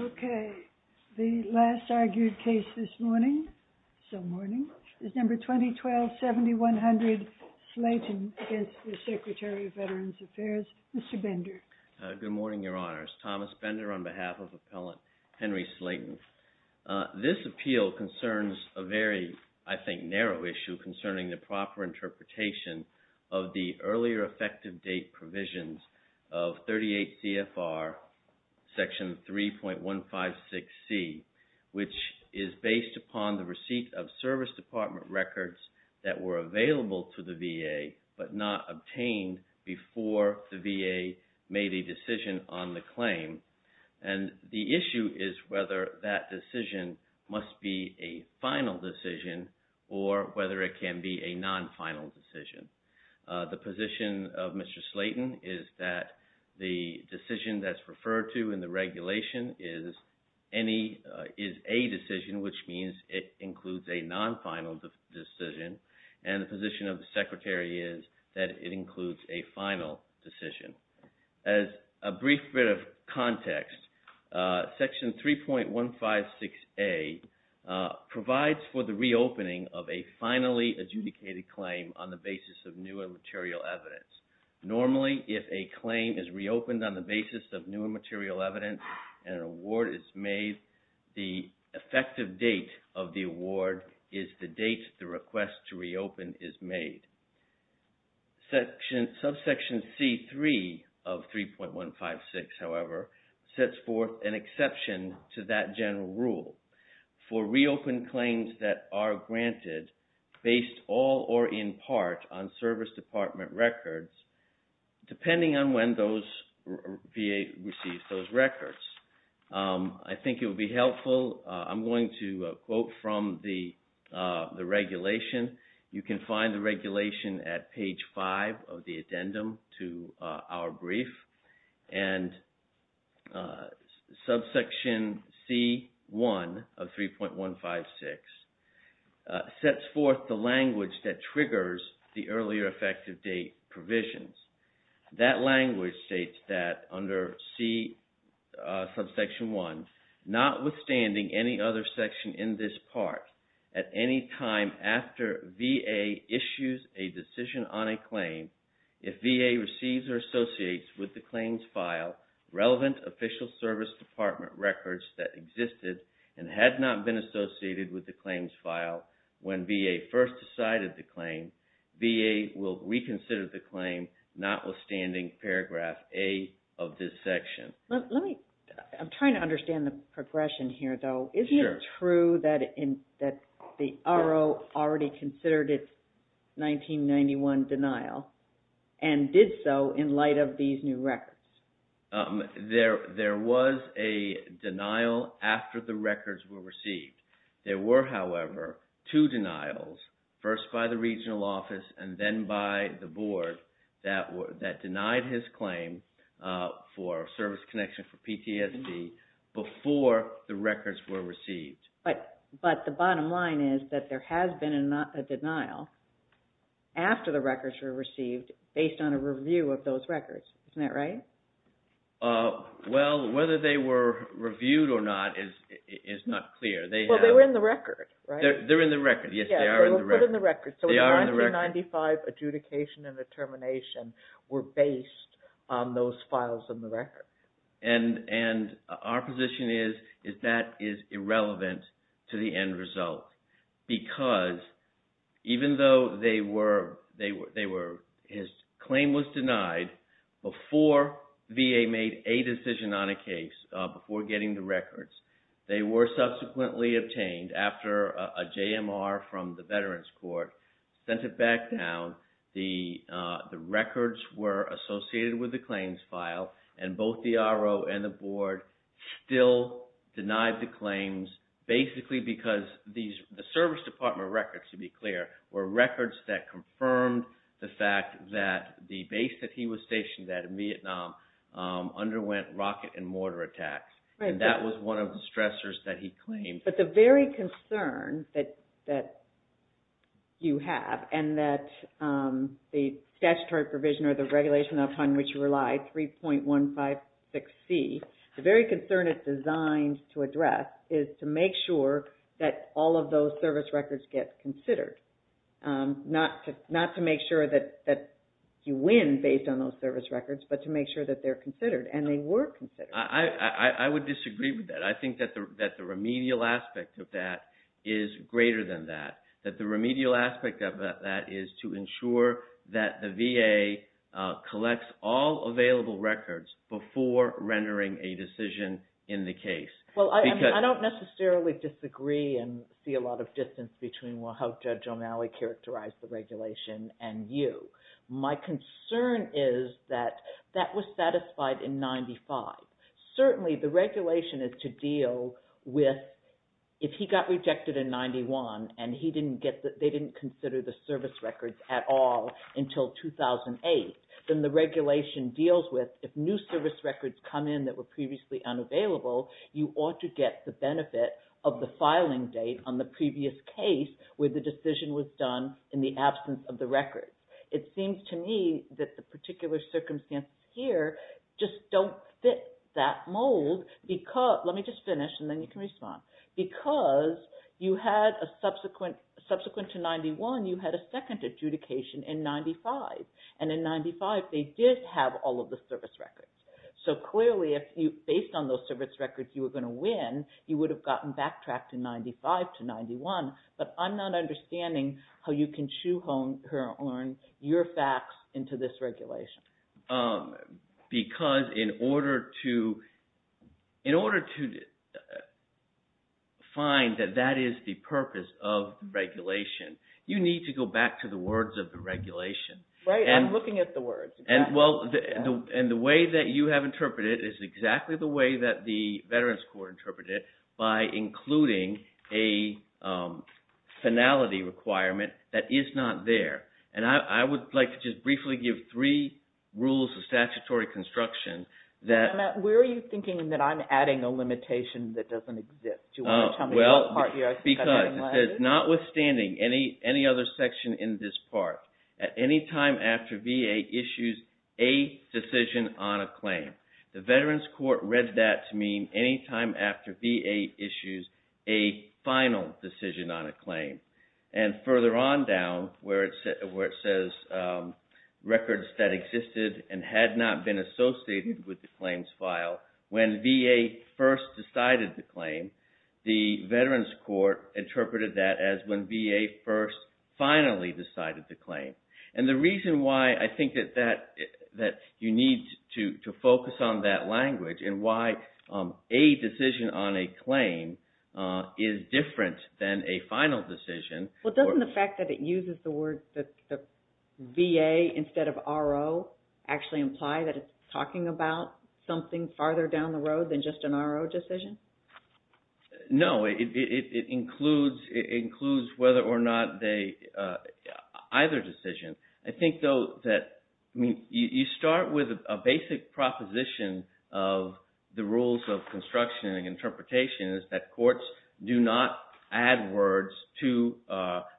Okay, the last argued case this morning, so morning, is number 2012-7100 Slayton v. Secretary of Veterans Affairs, Mr. Bender. BENDER Good morning, Your Honors. Thomas Bender on behalf of Appellant Henry Slayton. This appeal concerns a very, I think, narrow issue concerning the proper interpretation of the earlier effective date provisions of 38 CFR Section 3.156C, which is based upon the receipt of service department records that were available to the VA, but not obtained before the VA made a decision on the claim. And the issue is whether that decision must be a final decision or whether it can be a non-final decision. The position of Mr. Slayton is that the decision that's referred to in the regulation is a decision, which means it includes a non-final decision, and the position of the Secretary is that it includes a final decision. As a brief bit of context, Section 3.156A provides for the reopening of a finally adjudicated claim on the basis of new and material evidence. Normally, if a claim is reopened on the basis of new and material evidence and an award is made, the effective date of the award is the date the request to reopen is made. Subsection C.3 of 3.156, however, sets forth an exception to that general rule for reopened claims that are granted based all or in part on service department records, depending on when VA receives those records. I think it would be helpful, I'm going to quote from the regulation. You can find the regulation at page 5 of the addendum to our brief. And subsection C.1 of 3.156 sets forth the language that triggers the earlier section in this part. At any time after VA issues a decision on a claim, if VA receives or associates with the claims file relevant official service department records that existed and had not been associated with the claims file when VA first decided the claim, VA will reconsider the claim notwithstanding paragraph A of this section. I'm trying to understand the progression here, though. Is it true that the RO already considered its 1991 denial and did so in light of these new records? There was a denial after the records were received. There were, however, two denials, first by the regional office and then by the board that denied his claim for service connection for PTSD before the records were received. But the bottom line is that there has been a denial after the records were received based on a review of those records. Isn't that right? Well, whether they were reviewed or not is not clear. Well, they were in the record, right? They're in the record. Yes, they are in the record. They were put in the record. So, the 1995 adjudication and the termination were based on those files in the record. And our position is that is irrelevant to the end result because even though his claim was denied before VA made a decision on a case, before getting the records, they were subsequently obtained after a JMR from the Veterans Court sent it back down. The records were associated with the claims file and both the RO and the board still denied the claims basically because the service department records, to be clear, were records that confirmed the fact that the base that he was stationed at in Vietnam underwent rocket and mortar attacks. And that was one of the stressors that he claimed. But the very concern that you have and that the statutory provision or the regulation upon which you rely, 3.156C, the very concern it's designed to address is to make sure that all of those service records get considered, not to make sure that you win based on those service records, but to make sure that they're considered and they were considered. I would disagree with that. I think that the remedial aspect of that is greater than that. That the remedial aspect of that is to ensure that the VA collects all available records before rendering a decision in the case. Well, I don't necessarily disagree and see a lot of distance between how Judge O'Malley characterized the regulation and you. My concern is that that was satisfied in 95. Certainly the regulation is to deal with if he got rejected in 91 and they didn't consider the service records at all until 2008, then the regulation deals with if new service records come in that were previously unavailable, you ought to get the benefit of the filing date on the previous case where the decision was done in the absence of the records. It seems to me that the particular circumstances here just don't fit that mold. Let me just finish and then you can respond. Because subsequent to 91, you had a second adjudication in 95 and in 95, they did have all of the service records. So clearly, based on those service records you were going to win, you would have gotten backtracked in 95 to 91. But I'm not understanding how you can shoehorn your facts into this regulation. Because in order to find that that is the purpose of regulation, you need to go back to the words of the regulation. Right, I'm looking at the words. And the way that you have interpreted it is exactly the way that the Veterans Court interpreted it by including a finality requirement that is not there. And I would like to just briefly give three rules of statutory construction that... Where are you thinking that I'm adding a limitation that doesn't exist? Do you want to tell me what part you are discussing? Notwithstanding any other section in this part, at any time after VA issues a decision on a claim, the Veterans Court read that to mean any time after VA issues a final decision on a claim. And further on down where it says records that existed and had not been associated with the claims file, when VA first decided the claim, the Veterans Court interpreted that as when VA first finally decided the claim. And the reason why I think that you need to focus on that language and why a decision on a claim is different than a final decision... Well, doesn't the fact that it uses the words VA instead of RO actually imply that it's talking about something farther down the road than just an RO decision? No. It includes whether or not they... either decision. I think though that you start with a basic proposition of the rules of construction and interpretation is that courts do not add words to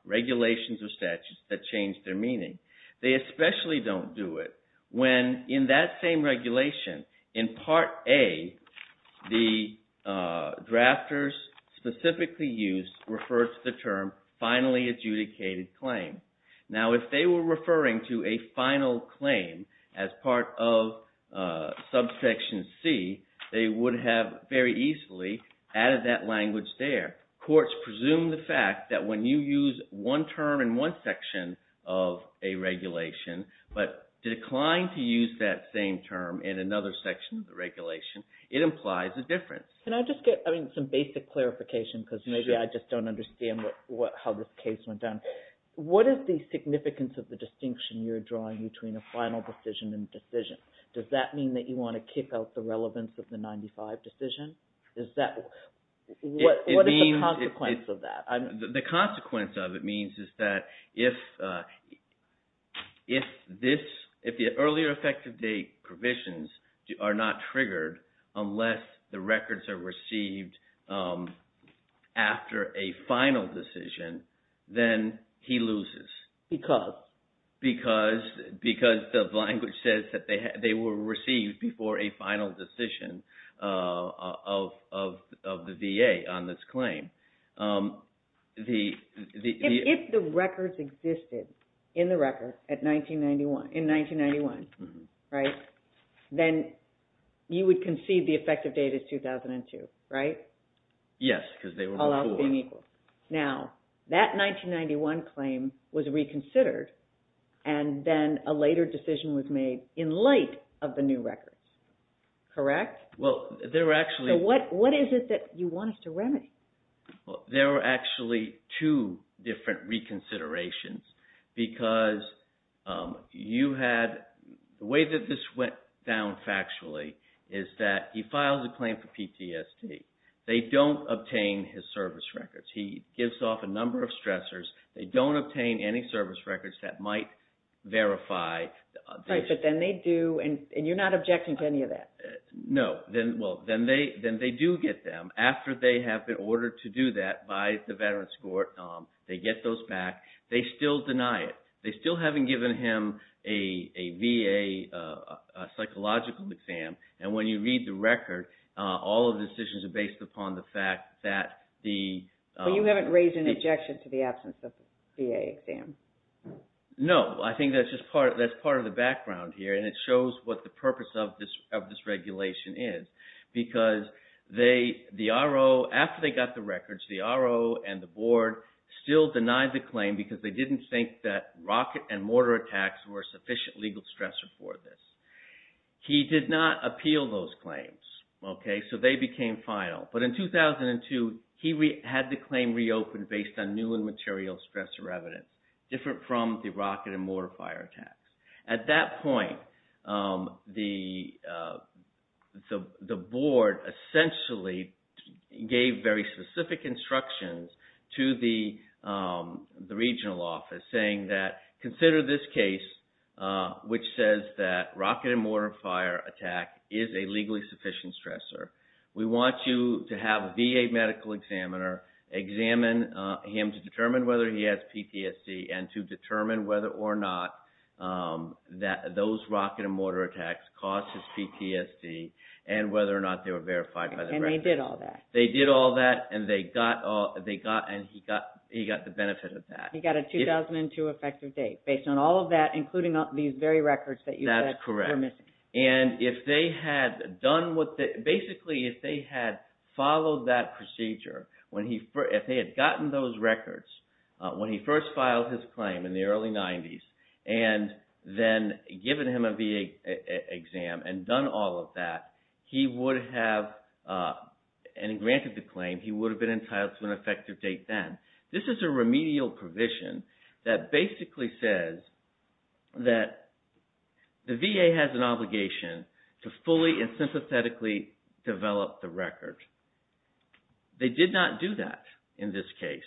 regulations or statutes that change their meaning. They especially don't do it when in that same regulation, in Part A, the drafters specifically used refers to the term finally adjudicated claim. Now if they were referring to a final claim as part of subsection C, they would have very easily added that language there. Courts presume the fact that when you use one term in one section of a regulation but decline to use that same term in another section of the regulation, it implies a difference. Can I just get some basic clarification because maybe I just don't understand how this case went down. What is the significance of the distinction you're drawing between a final decision and a decision? Does that mean that you want to kick out the relevance of the 95 decision? What is the consequence of that? The consequence of it means is that if this... if the earlier effective date provisions are not triggered unless the records are received after a final decision, then he loses. Because? Because the language says that they were received before a final decision of the VA on this case. If the records existed in the record in 1991, right, then you would concede the effective date is 2002, right? Yes, because they were not equal. Now that 1991 claim was reconsidered and then a later decision was made in light of the new records, correct? Well they're actually... What is it that you want us to remedy? Well, there were actually two different reconsiderations because you had... the way that this went down factually is that he files a claim for PTSD. They don't obtain his service records. He gives off a number of stressors. They don't obtain any service records that might verify this. Right, but then they do and you're not objecting to any of that? No, well then they do get them after they have been ordered to do that by the Veterans Court. They get those back. They still deny it. They still haven't given him a VA psychological exam and when you read the record, all of the decisions are based upon the fact that the... But you haven't raised an objection to the absence of a VA exam? No, I think that's just part of the background here and it shows what the purpose of this regulation is because the RO, after they got the records, the RO and the board still denied the claim because they didn't think that rocket and mortar attacks were sufficient legal stressors for this. He did not appeal those claims, okay, so they became final. But in 2002, he had the claim reopened based on new and material stressor evidence, different from the rocket and mortar fire attacks. At that point, the board essentially gave very specific instructions to the regional office saying that consider this case which says that rocket and mortar fire attack is a legally sufficient stressor. We want you to have a VA medical examiner examine him to determine whether he has PTSD and to determine whether or not those rocket and mortar attacks caused his PTSD and whether or not they were verified by the records. And they did all that? They did all that and he got the benefit of that. He got a 2002 effective date based on all of that, including these very records that you said were missing. That's correct. And if they had done what... Basically, if they had followed that procedure, if they had gotten those records when he first filed his claim in the early 90s and then given him a VA exam and done all of that, he would have... And granted the claim, he would have been entitled to an effective date then. This is a remedial provision that basically says that the VA has an obligation to fully and sympathetically develop the record. They did not do that in this case.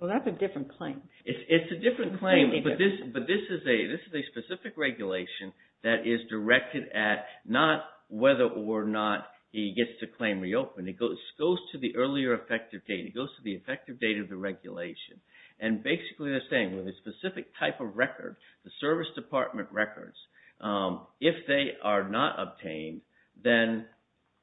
Well, that's a different claim. It's a different claim, but this is a specific regulation that is directed at not whether or not he gets to claim reopen. It goes to the earlier effective date. It goes to the effective date of the regulation. And basically, they're saying with a specific type of record, the service department records, if they are not obtained, then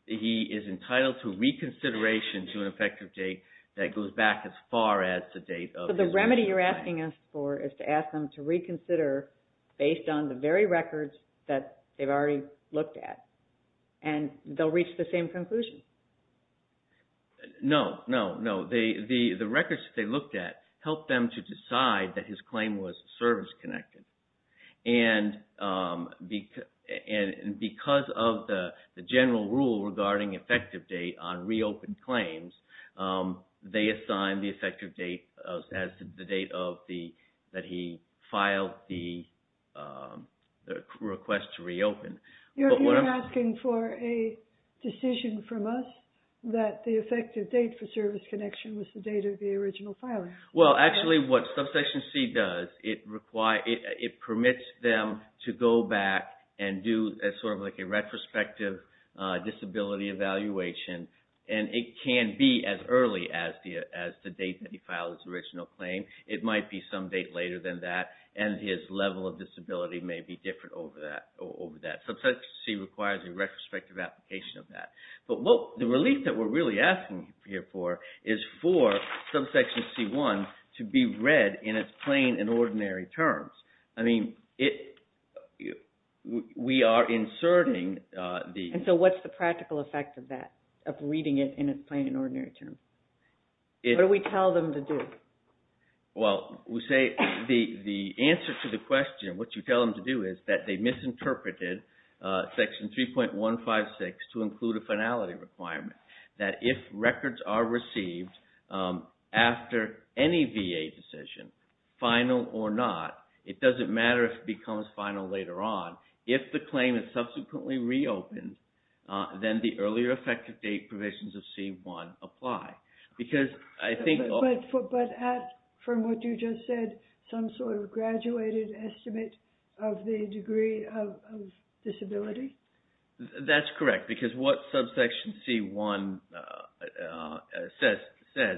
he is entitled to reconsideration to an effective date that goes back as far as the date of his... But the remedy you're asking us for is to ask them to reconsider based on the very records that they've already looked at and they'll reach the same conclusion. No, no, no. The records that they looked at helped them to decide that his claim was service connected. And because of the general rule regarding effective date on reopened claims, they assigned the effective date as the date that he filed the request to reopen. You're asking for a decision from us that the effective date for service connection was the date of the original filing. Well, actually what Subsection C does, it permits them to go back and do a retrospective disability evaluation. And it can be as early as the date that he filed his original claim. It might be some date later than that. And his level of disability may be different over that. Subsection C requires a retrospective application of that. But the relief that we're really asking here for is for Subsection C-1 to be read in its plain and ordinary terms. I mean, we are inserting the... And so what's the practical effect of that, of reading it in its plain and ordinary terms? What do we tell them to do? Well, we say the answer to the question, what you tell them to do is that they misinterpreted Section 3.156 to include a finality requirement. That if records are received after any VA decision, final or not, it doesn't matter if it becomes final later on, if the claim is subsequently reopened, then the earlier effective date provisions of C-1 apply. But from what you just said, some sort of graduated estimate of the degree of disability? That's correct. Because what Subsection C-1 says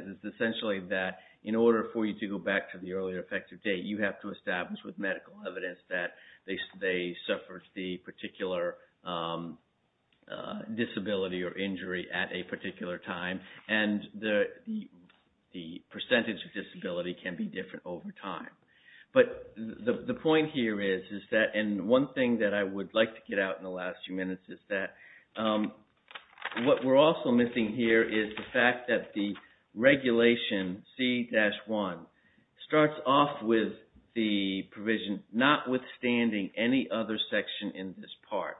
is essentially that in order for you to go back to the earlier effective date, you have to establish with medical evidence that they suffered the particular disability or injury at a particular time. And the percentage of disability can be different over time. But the point here is that, and one thing that I would like to get out in the last few minutes is that what we're also missing here is the fact that the regulation C-1 starts off with the provision notwithstanding any other section in this part.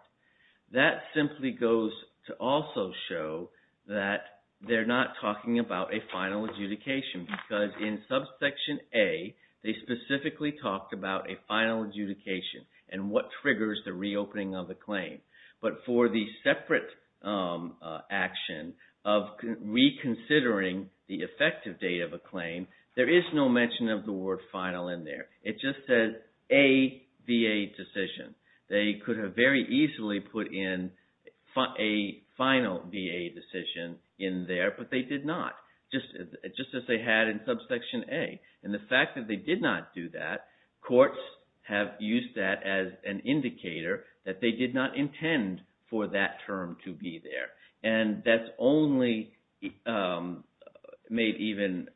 That simply goes to also show that they're not talking about a final adjudication because in Subsection A, they specifically talked about a final adjudication and what triggers the reopening of the claim. But for the separate action of reconsidering the effective date of a claim, there is no mention of the word final in there. It just says A VA decision. They could have very easily put in a final VA decision in there, but they did not, just as they had in Subsection A. And the fact that they did not do that, courts have used that as an indicator that they did not intend for that term to be there. And that's only made even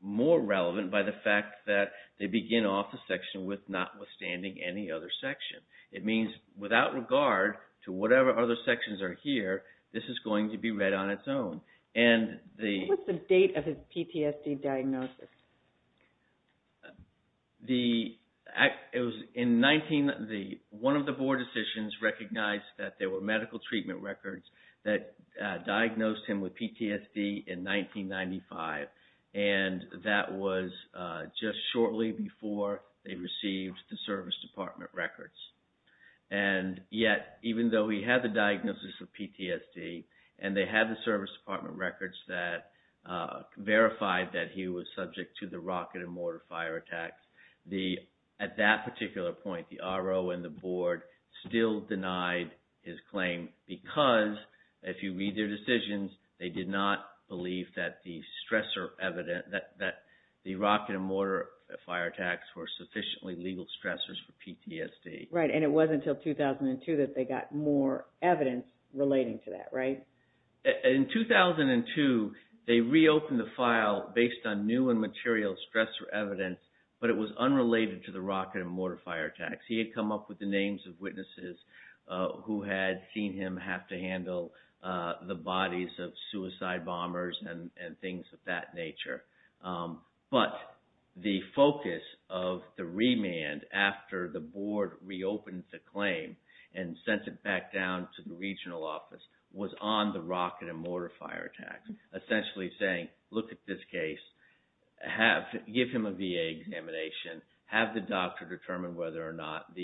more relevant by the fact that they begin off the section with notwithstanding any other section. It means without regard to whatever other sections are here, this is going to be read on its own. What's the date of his PTSD diagnosis? One of the board decisions recognized that there were medical treatment records that diagnosed him with PTSD in 1995, and that was just shortly before they received the service department records. And yet, even though he had the diagnosis of PTSD and they had the service department records that verified that he was subject to the rocket and mortar fire attacks, at that particular point, the RO and the board still denied his claim because if you read their decisions, they did not believe that the rocket and mortar fire attacks Right, and it wasn't until 2002 that they got more evidence relating to that, right? In 2002, they reopened the file based on new and material stressor evidence, but it was unrelated to the rocket and mortar fire attacks. He had come up with the names of witnesses who had seen him have to handle the bodies of suicide bombers and things of that nature. But the focus of the remand after the board reopened the claim and sent it back down to the regional office was on the rocket and mortar fire attacks, essentially saying, look at this case, give him a VA examination, have the doctor determine whether or not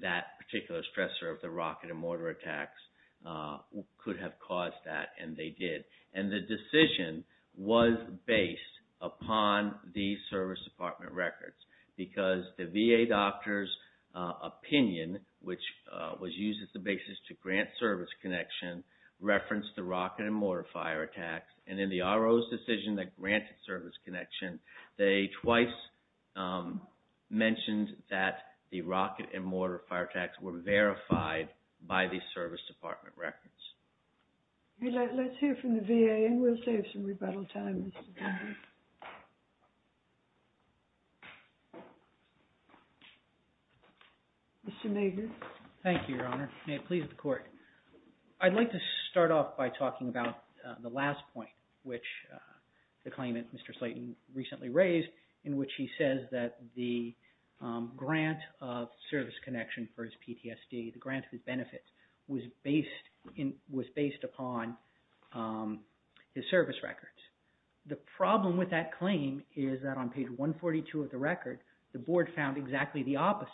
that particular stressor of the rocket and mortar attacks could have caused that, and they did. And the decision was based upon the service department records because the VA doctor's opinion, which was used as the basis to grant service connection, referenced the rocket and mortar fire attacks, and in the RO's decision that granted service connection, they twice mentioned that the rocket and mortar fire attacks were verified by the service department records. Let's hear from the VA and we'll save some rebuttal time. Mr. Nager. Thank you, Your Honor. May it please the court. I'd like to start off by talking about the last point, which the claimant, Mr. Slayton, recently raised, in which he says that the grant of his benefits was based upon his service records. The problem with that claim is that on page 142 of the record, the board found exactly the opposite.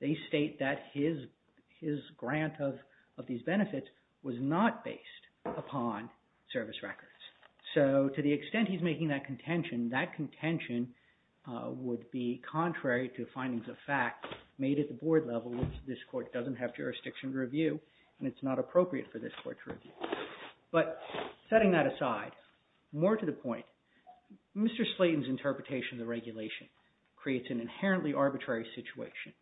They state that his grant of these benefits was not based upon service records. So to the extent he's making that contention, that contention would be contrary to findings of fact made at the jurisdiction review, and it's not appropriate for this court to review. But setting that aside, more to the point, Mr. Slayton's interpretation of the regulation creates an inherently arbitrary situation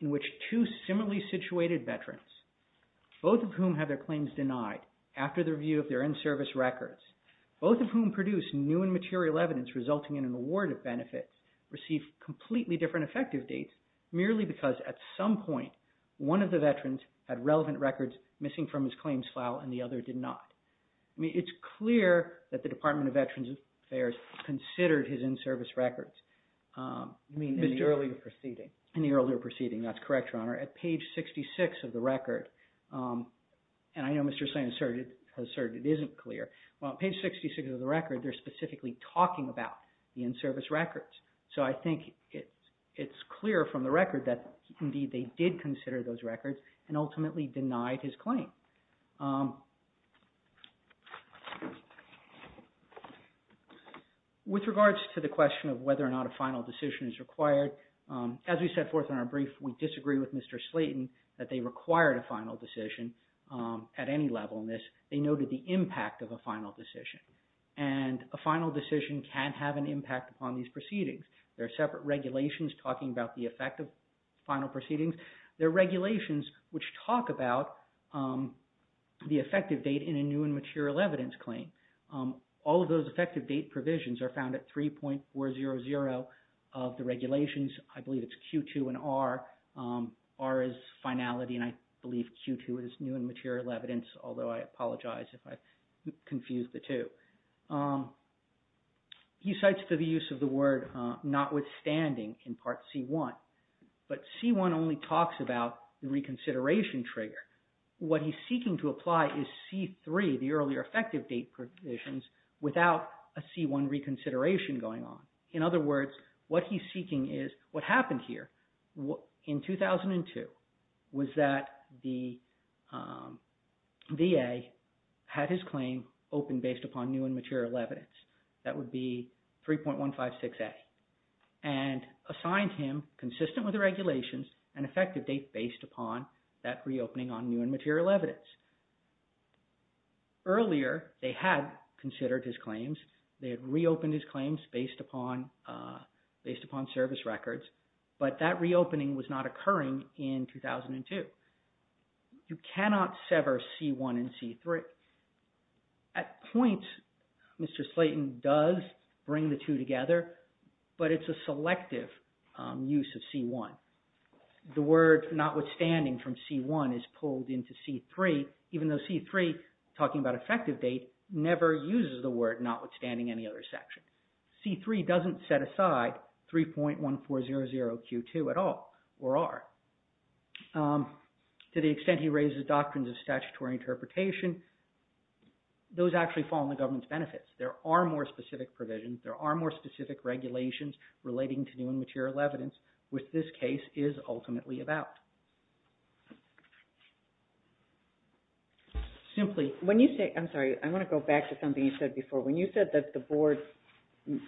in which two similarly situated veterans, both of whom have their claims denied after the review of their in-service records, both of whom produce new and material evidence resulting in an award of benefits, receive completely different effective dates merely because at some point one of the veterans had relevant records missing from his claims file and the other did not. I mean, it's clear that the Department of Veterans Affairs considered his in-service records. In the earlier proceeding. In the earlier proceeding. That's correct, Your Honor. At page 66 of the record, and I know Mr. Slayton asserted it isn't clear. Well, at page 66 of the record, they're specifically talking about the in-service records. So I think it's clear from the record that indeed they did consider those records and ultimately denied his claim. With regards to the question of whether or not a final decision is required, as we set forth in our brief, we disagree with Mr. Slayton that they required a final decision at any level in this. They noted the impact of a final decision. And a final decision can have an impact upon these proceedings. There are separate regulations talking about the effect of final proceedings. There are regulations which talk about the effective date in a new and material evidence claim. All of those effective date provisions are found at 3.400 of the regulations. I believe it's Q2 and R. R is finality and I believe Q2 is new and finality, although I apologize if I've confused the two. He cites the use of the word notwithstanding in Part C.1. But C.1 only talks about the reconsideration trigger. What he's seeking to apply is C.3, the earlier effective date provisions, without a C.1 reconsideration going on. In other words, what he's seeking is what happened here in 2002. Was that the VA had his claim opened based upon new and material evidence? That would be 3.156A. And assigned him consistent with the regulations an effective date based upon that reopening on new and material evidence. Earlier, they had considered his claims. They had reopened his claims based upon service records. But that reopening was not occurring in 2002. You cannot sever C.1 and C.3. At points, Mr. Slayton does bring the two together, but it's a selective use of C.1. The word notwithstanding from C.1 is pulled into C.3, even though C.3, talking about effective date, never uses the word notwithstanding any other section. C.3 doesn't set aside 3.1400Q2 at all, or are. To the extent he raises doctrines of statutory interpretation, those actually fall in the government's benefits. There are more specific provisions. There are more specific regulations relating to new and material evidence, which this case is ultimately about. Simply, when you say, I'm sorry, I'm going to go back to something you said before. When you said that the board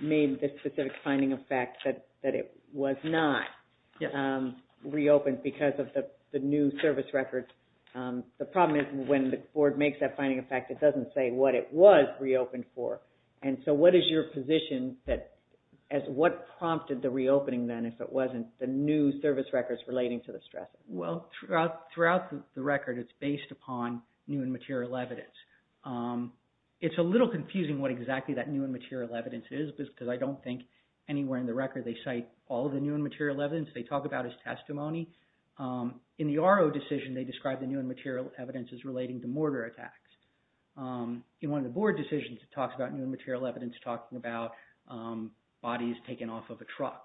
made this specific finding of fact that it was not reopened because of the new service records, the problem is when the board makes that finding of fact, it doesn't say what it was reopened for. What is your position as what prompted the reopening then if it wasn't the new service records relating to the stressors? Well, throughout the record, it's based upon new and material evidence. It's a little confusing what exactly that new and material evidence is because I don't think anywhere in the record they cite all the new and material evidence. They talk about his testimony. In the RO decision, they describe the new and material evidence as relating to mortar attacks. In one of the board decisions, it talks about new and material evidence talking about bodies taken off of a truck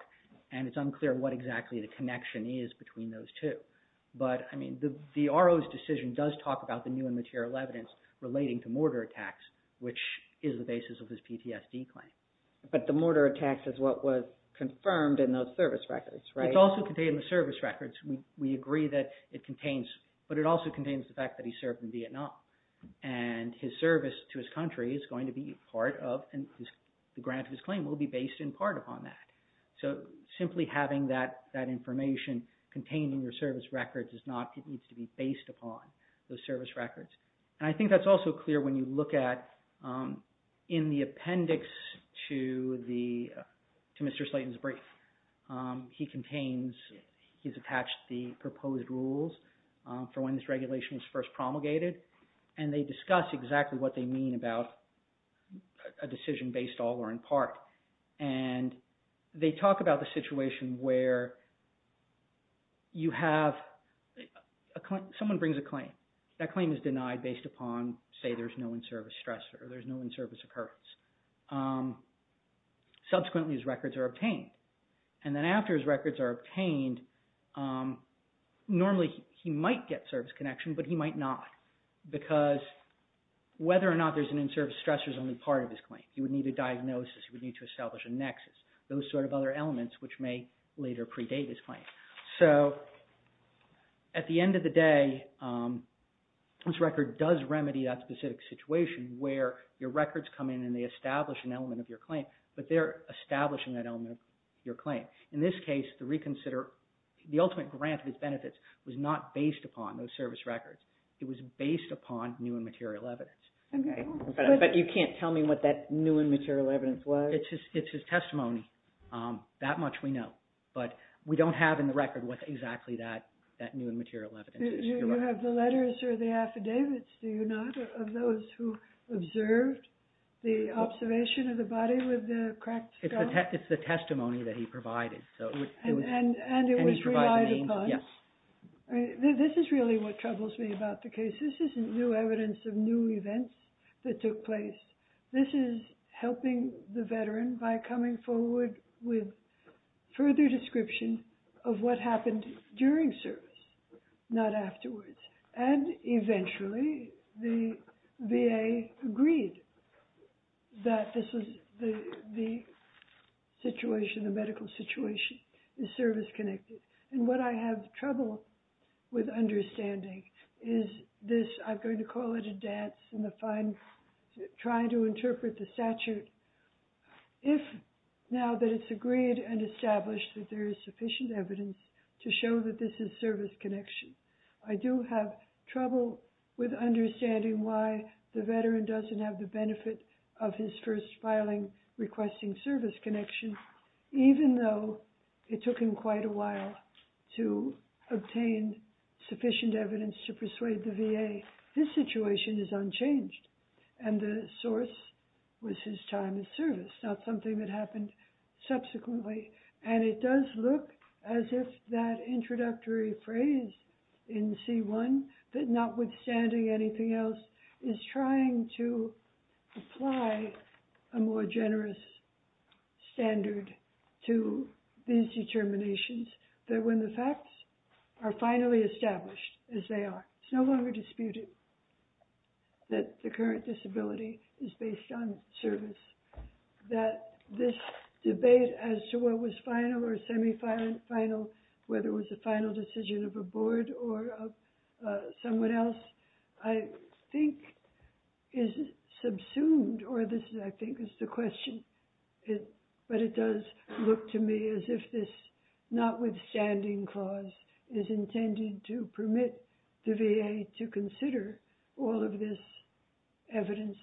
and it's unclear what exactly the connection is between those two. But I mean, the RO's decision does talk about the new and material evidence relating to mortar attacks, which is the basis of his PTSD claim. But the mortar attacks is what was confirmed in those service records, right? It's also contained in the service records. We agree that it contains, but it also contains the fact that he served in Vietnam and his service to his country is going to be part of and the grant of his claim will be based in part upon that. So simply having that information contained in your service records is not, it needs to be based upon those service records. And I think that's also clear when you look at in the appendix to Mr. Slayton's brief. He contains, he's attached the proposed rules for when this regulation was first promulgated and they discuss exactly what they mean about a decision based all or in part. And they talk about the situation where you have, someone brings a claim. That claim is denied based upon, say, there's no in-service stressor or there's no in-service occurrence. Subsequently, his records are obtained. And then after his records are obtained, normally he might get service connection, but he might not. Because whether or not there's an in-service stressor is only part of his claim. He would need a diagnosis. He would need to establish a nexus. Those sort of other elements which may later predate his claim. So at the end of the day, this record does remedy that specific situation where your records come in and they establish an element of your claim, but they're establishing that element of your claim. In this case, the reconsider, the ultimate grant of his benefits was not based upon those service records. It was based upon new and material evidence. But you can't tell me what that new and material evidence was? It's his testimony. That much we know. But we don't have in the record what exactly that new and material evidence is. You have the letters or the affidavits, do you not, of those who observed the observation of the body with the cracked skull? It's the testimony that he provided. And it was relied upon? Yes. This is really what troubles me about the case. This isn't new evidence of new events that took place. This is helping the veteran by coming forward with further description of what happened during service, not afterwards. And eventually, the VA agreed that the medical situation is service-connected. And what I have trouble with understanding is this. I'm going to call it a dance in trying to interpret the statute. If now that it's agreed and established that there is sufficient evidence to show that this is service connection, I do have trouble with understanding why the veteran doesn't have the benefit of his first filing requesting service connection, even though it took him quite a while to obtain sufficient evidence to persuade the VA. This situation is unchanged. And the source was his time in service, not something that happened subsequently. And it does look as if that introductory phrase in C1, that notwithstanding anything else, is trying to apply a more generous standard to these determinations, that when the facts are finally established as they are, it's no longer disputed that the current disability is based on service, that this debate as to what was final or semi-final, whether it was a final decision of a board or of someone else, I think is subsumed, or this, I think, is the question. But it does look to me as if this notwithstanding clause is intended to permit the VA to consider all of this evidence.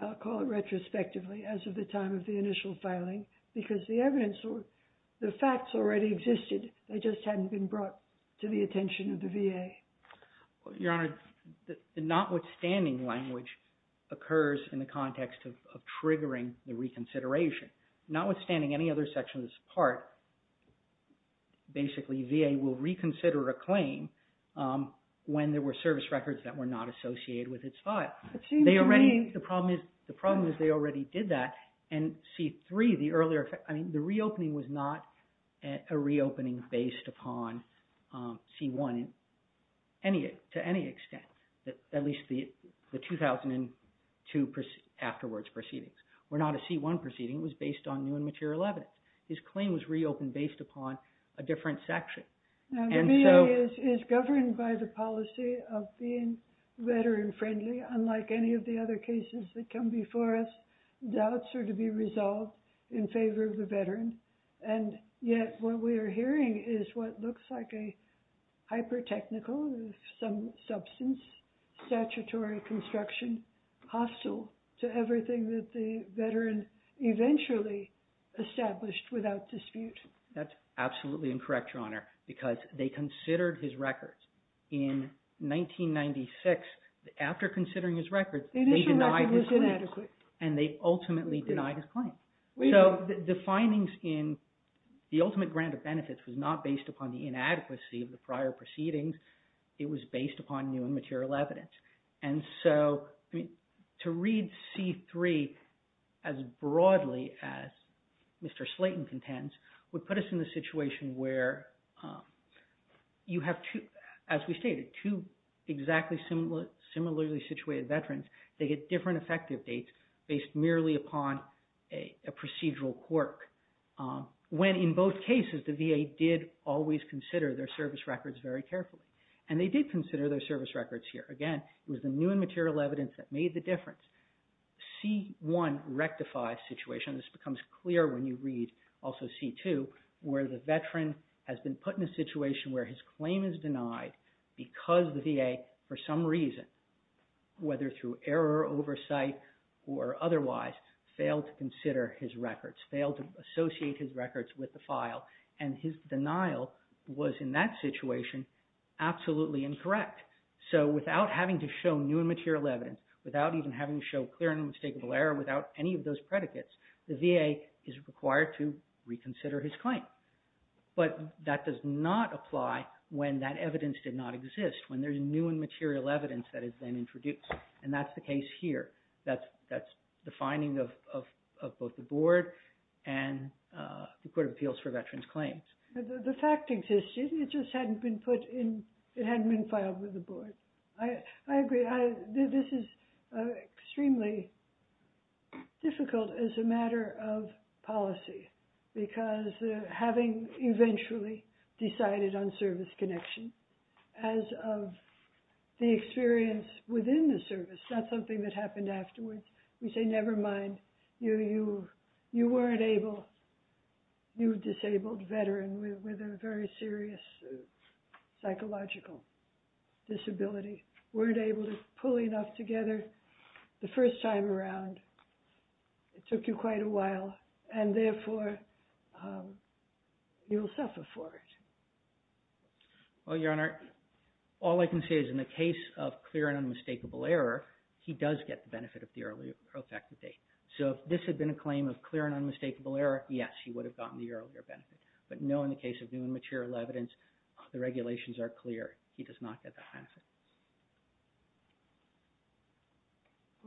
I'll call it retrospectively, as of the time of the initial filing, because the facts already existed, they just hadn't been brought to the attention of the VA. Your Honor, the notwithstanding language occurs in the context of triggering the reconsideration. Notwithstanding any other section of this part, basically VA will reconsider a claim when there were service records that were not associated with its file. The problem is they already did that, and C-3, the reopening was not a reopening based upon C-1 to any extent. At least the 2002 afterwards proceedings were not a C-1 proceeding, it was based on new and material evidence. This claim was reopened based upon a different section. The VA is governed by the policy of being veteran-friendly, unlike any of the other cases that come before us. Doubts are to be resolved in favor of the veteran, and yet what we are hearing is what looks like a hyper-technical, some substance, statutory construction, hostile to everything that the veteran eventually established without dispute. That's absolutely incorrect, Your Honor, because they considered his records in 1996. After considering his records, they denied his claim, and they ultimately denied his claim. So the findings in the ultimate grant of benefits was not based upon the inadequacy of the prior proceedings, it was based upon new and material evidence. To read C-3 as broadly as Mr. Slayton contends would put us in a situation where, as we stated, two exactly similarly situated veterans, they get different effective dates based merely upon a procedural quirk. When in both cases, the VA did always consider their service records very carefully, and they did consider their service records here. Again, it was the new and material evidence that made the difference. C-1 rectifies the situation, and this becomes clear when you read also C-2, where the veteran has been put in a situation where his claim is denied because the VA, for some reason, whether through error or oversight or otherwise, failed to consider his records, failed to associate his records with the file, and his denial was in that situation absolutely incorrect. So without having to show new and material evidence, without even having to show clear and unmistakable error, without any of those predicates, the VA is required to reconsider his claim. But that does not apply when that evidence did not exist, when there's new and material evidence that is then introduced, and that's the case here. That's the finding of both the board and the Court of Appeals for Veterans Claims. The fact exists. It just hadn't been put in. It hadn't been filed with the board. I agree. This is extremely difficult as a matter of policy because having eventually decided on service connection as of the experience within the service, not something that happened afterwards, we say, never mind. You weren't able. You're a disabled veteran with a very serious psychological disability. Weren't able to pull enough together the first time around. It took you quite a while, and therefore, you'll suffer for it. Well, Your Honor, all I can say is in the case of clear and unmistakable error, he does get the benefit of the earlier pro facto date. So if this had been a claim of clear and unmistakable error, yes, he would have gotten the earlier benefit. But no, in the case of new and material evidence, the regulations are clear. He does not get that benefit.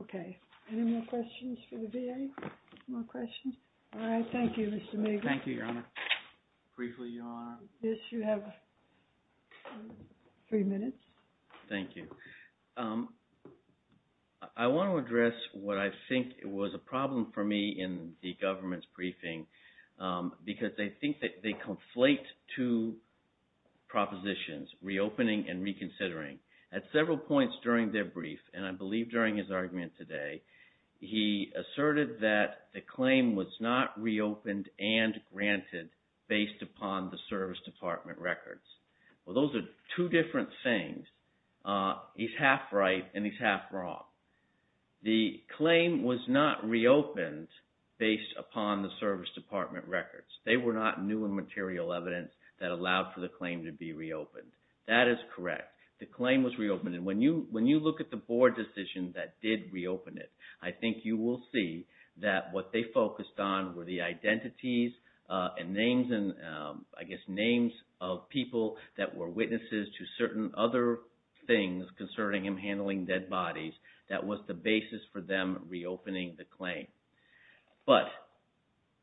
Okay. Any more questions for the VA? More questions? All right. Thank you, Mr. Meagher. Thank you, Your Honor. Briefly, Your Honor. Yes, you have three minutes. Thank you. I want to address what I think was a problem for me in the government's briefing because they think that they conflate two propositions, reopening and reconsidering. At several points during their brief, and I believe during his argument today, he asserted that the claim was not reopened and granted based upon the Service Department records. Well, those are two different things. He's half right and he's half wrong. The claim was not reopened based upon the Service Department records. They were not new and material evidence that allowed for the claim to be reopened. That is correct. The claim was reopened. When you look at the board decision that did reopen it, I think you will see that what they focused on were the identities and names and, I guess, names of people that were witnesses to certain other things concerning him handling dead bodies. That was the basis for them reopening the claim. But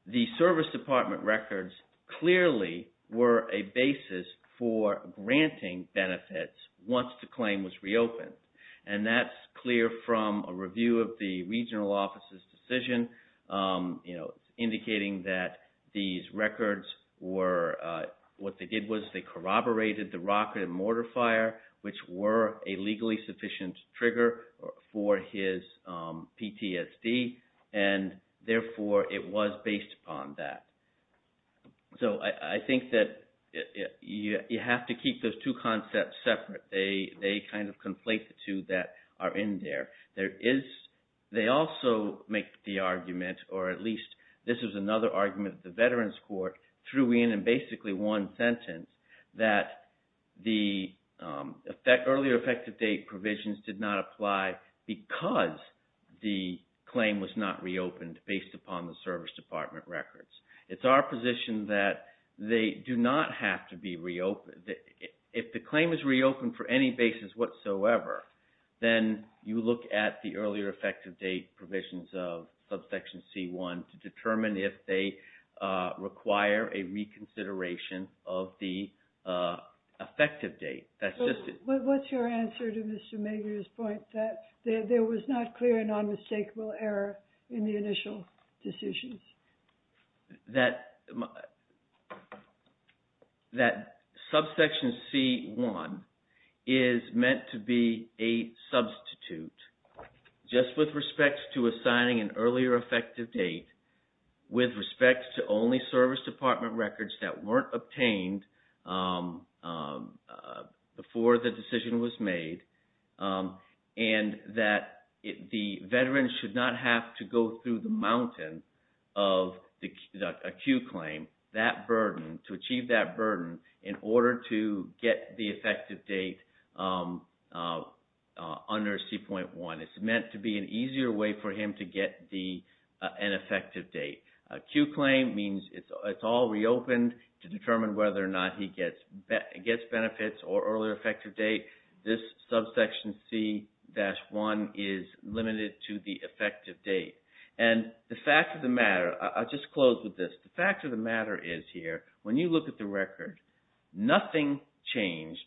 the Service Department records clearly were a basis for granting benefits once the claim was reopened. And that's clear from a review of the regional office's decision, indicating that these records were – what they did was they corroborated the rocket and mortar fire, which were a legally sufficient trigger for his PTSD and, therefore, it was based upon that. So I think that you have to keep those two concepts separate. They kind of conflate the two that are in there. There is – they also make the argument, or at least this is another argument, that the Veterans Court threw in basically one sentence that the earlier effective date provisions did not apply because the claim was not reopened based upon the Service Department records. It's our position that they do not have to be reopened. If the claim is reopened for any basis whatsoever, then you look at the earlier effective date provisions of Subsection C-1 to determine if they require a reconsideration of the effective date. That's just – But what's your answer to Mr. Mager's point that there was not clear and unmistakable error in the initial decisions? That Subsection C-1 is meant to be a substitute just with respect to assigning an earlier effective date with respect to only Service Department records that weren't obtained before the decision was made and that the Veterans should not have to go through the mountains of a Q claim, that burden, to achieve that burden in order to get the effective date under C-1. It's meant to be an easier way for him to get an effective date. A Q claim means it's all reopened to determine whether or not he gets benefits or earlier effective date. This Subsection C-1 is limited to the effective date. And the fact of the matter – I'll just close with this. The fact of the matter is here, when you look at the record, nothing changed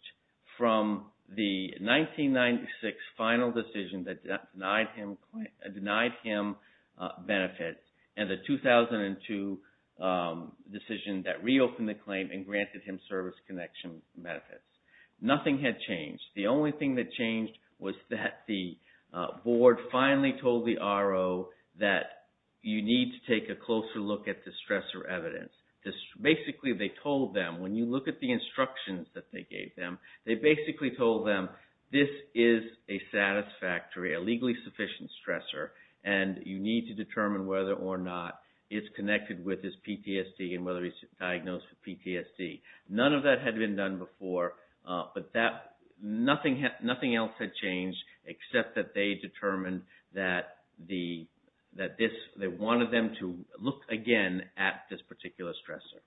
from the 1996 final decision that denied him benefits and the 2002 decision that reopened the claim and granted him service connection benefits. Nothing had changed. The only thing that changed was that the board finally told the RO that you need to take a closer look at the stressor evidence. Basically, they told them, when you look at the instructions that they gave them, they basically told them this is a satisfactory, a legally sufficient stressor, and you need to determine whether or not it's connected with his PTSD and whether he's diagnosed with PTSD. None of that had been done before, but nothing else had changed, except that they determined that they wanted them to look again at this particular stressor.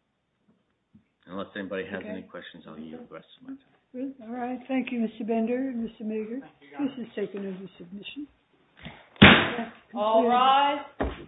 Unless anybody has any questions, I'll yield the rest of my time. All right. Thank you, Mr. Bender and Mr. Mager. This is taken under submission. All rise.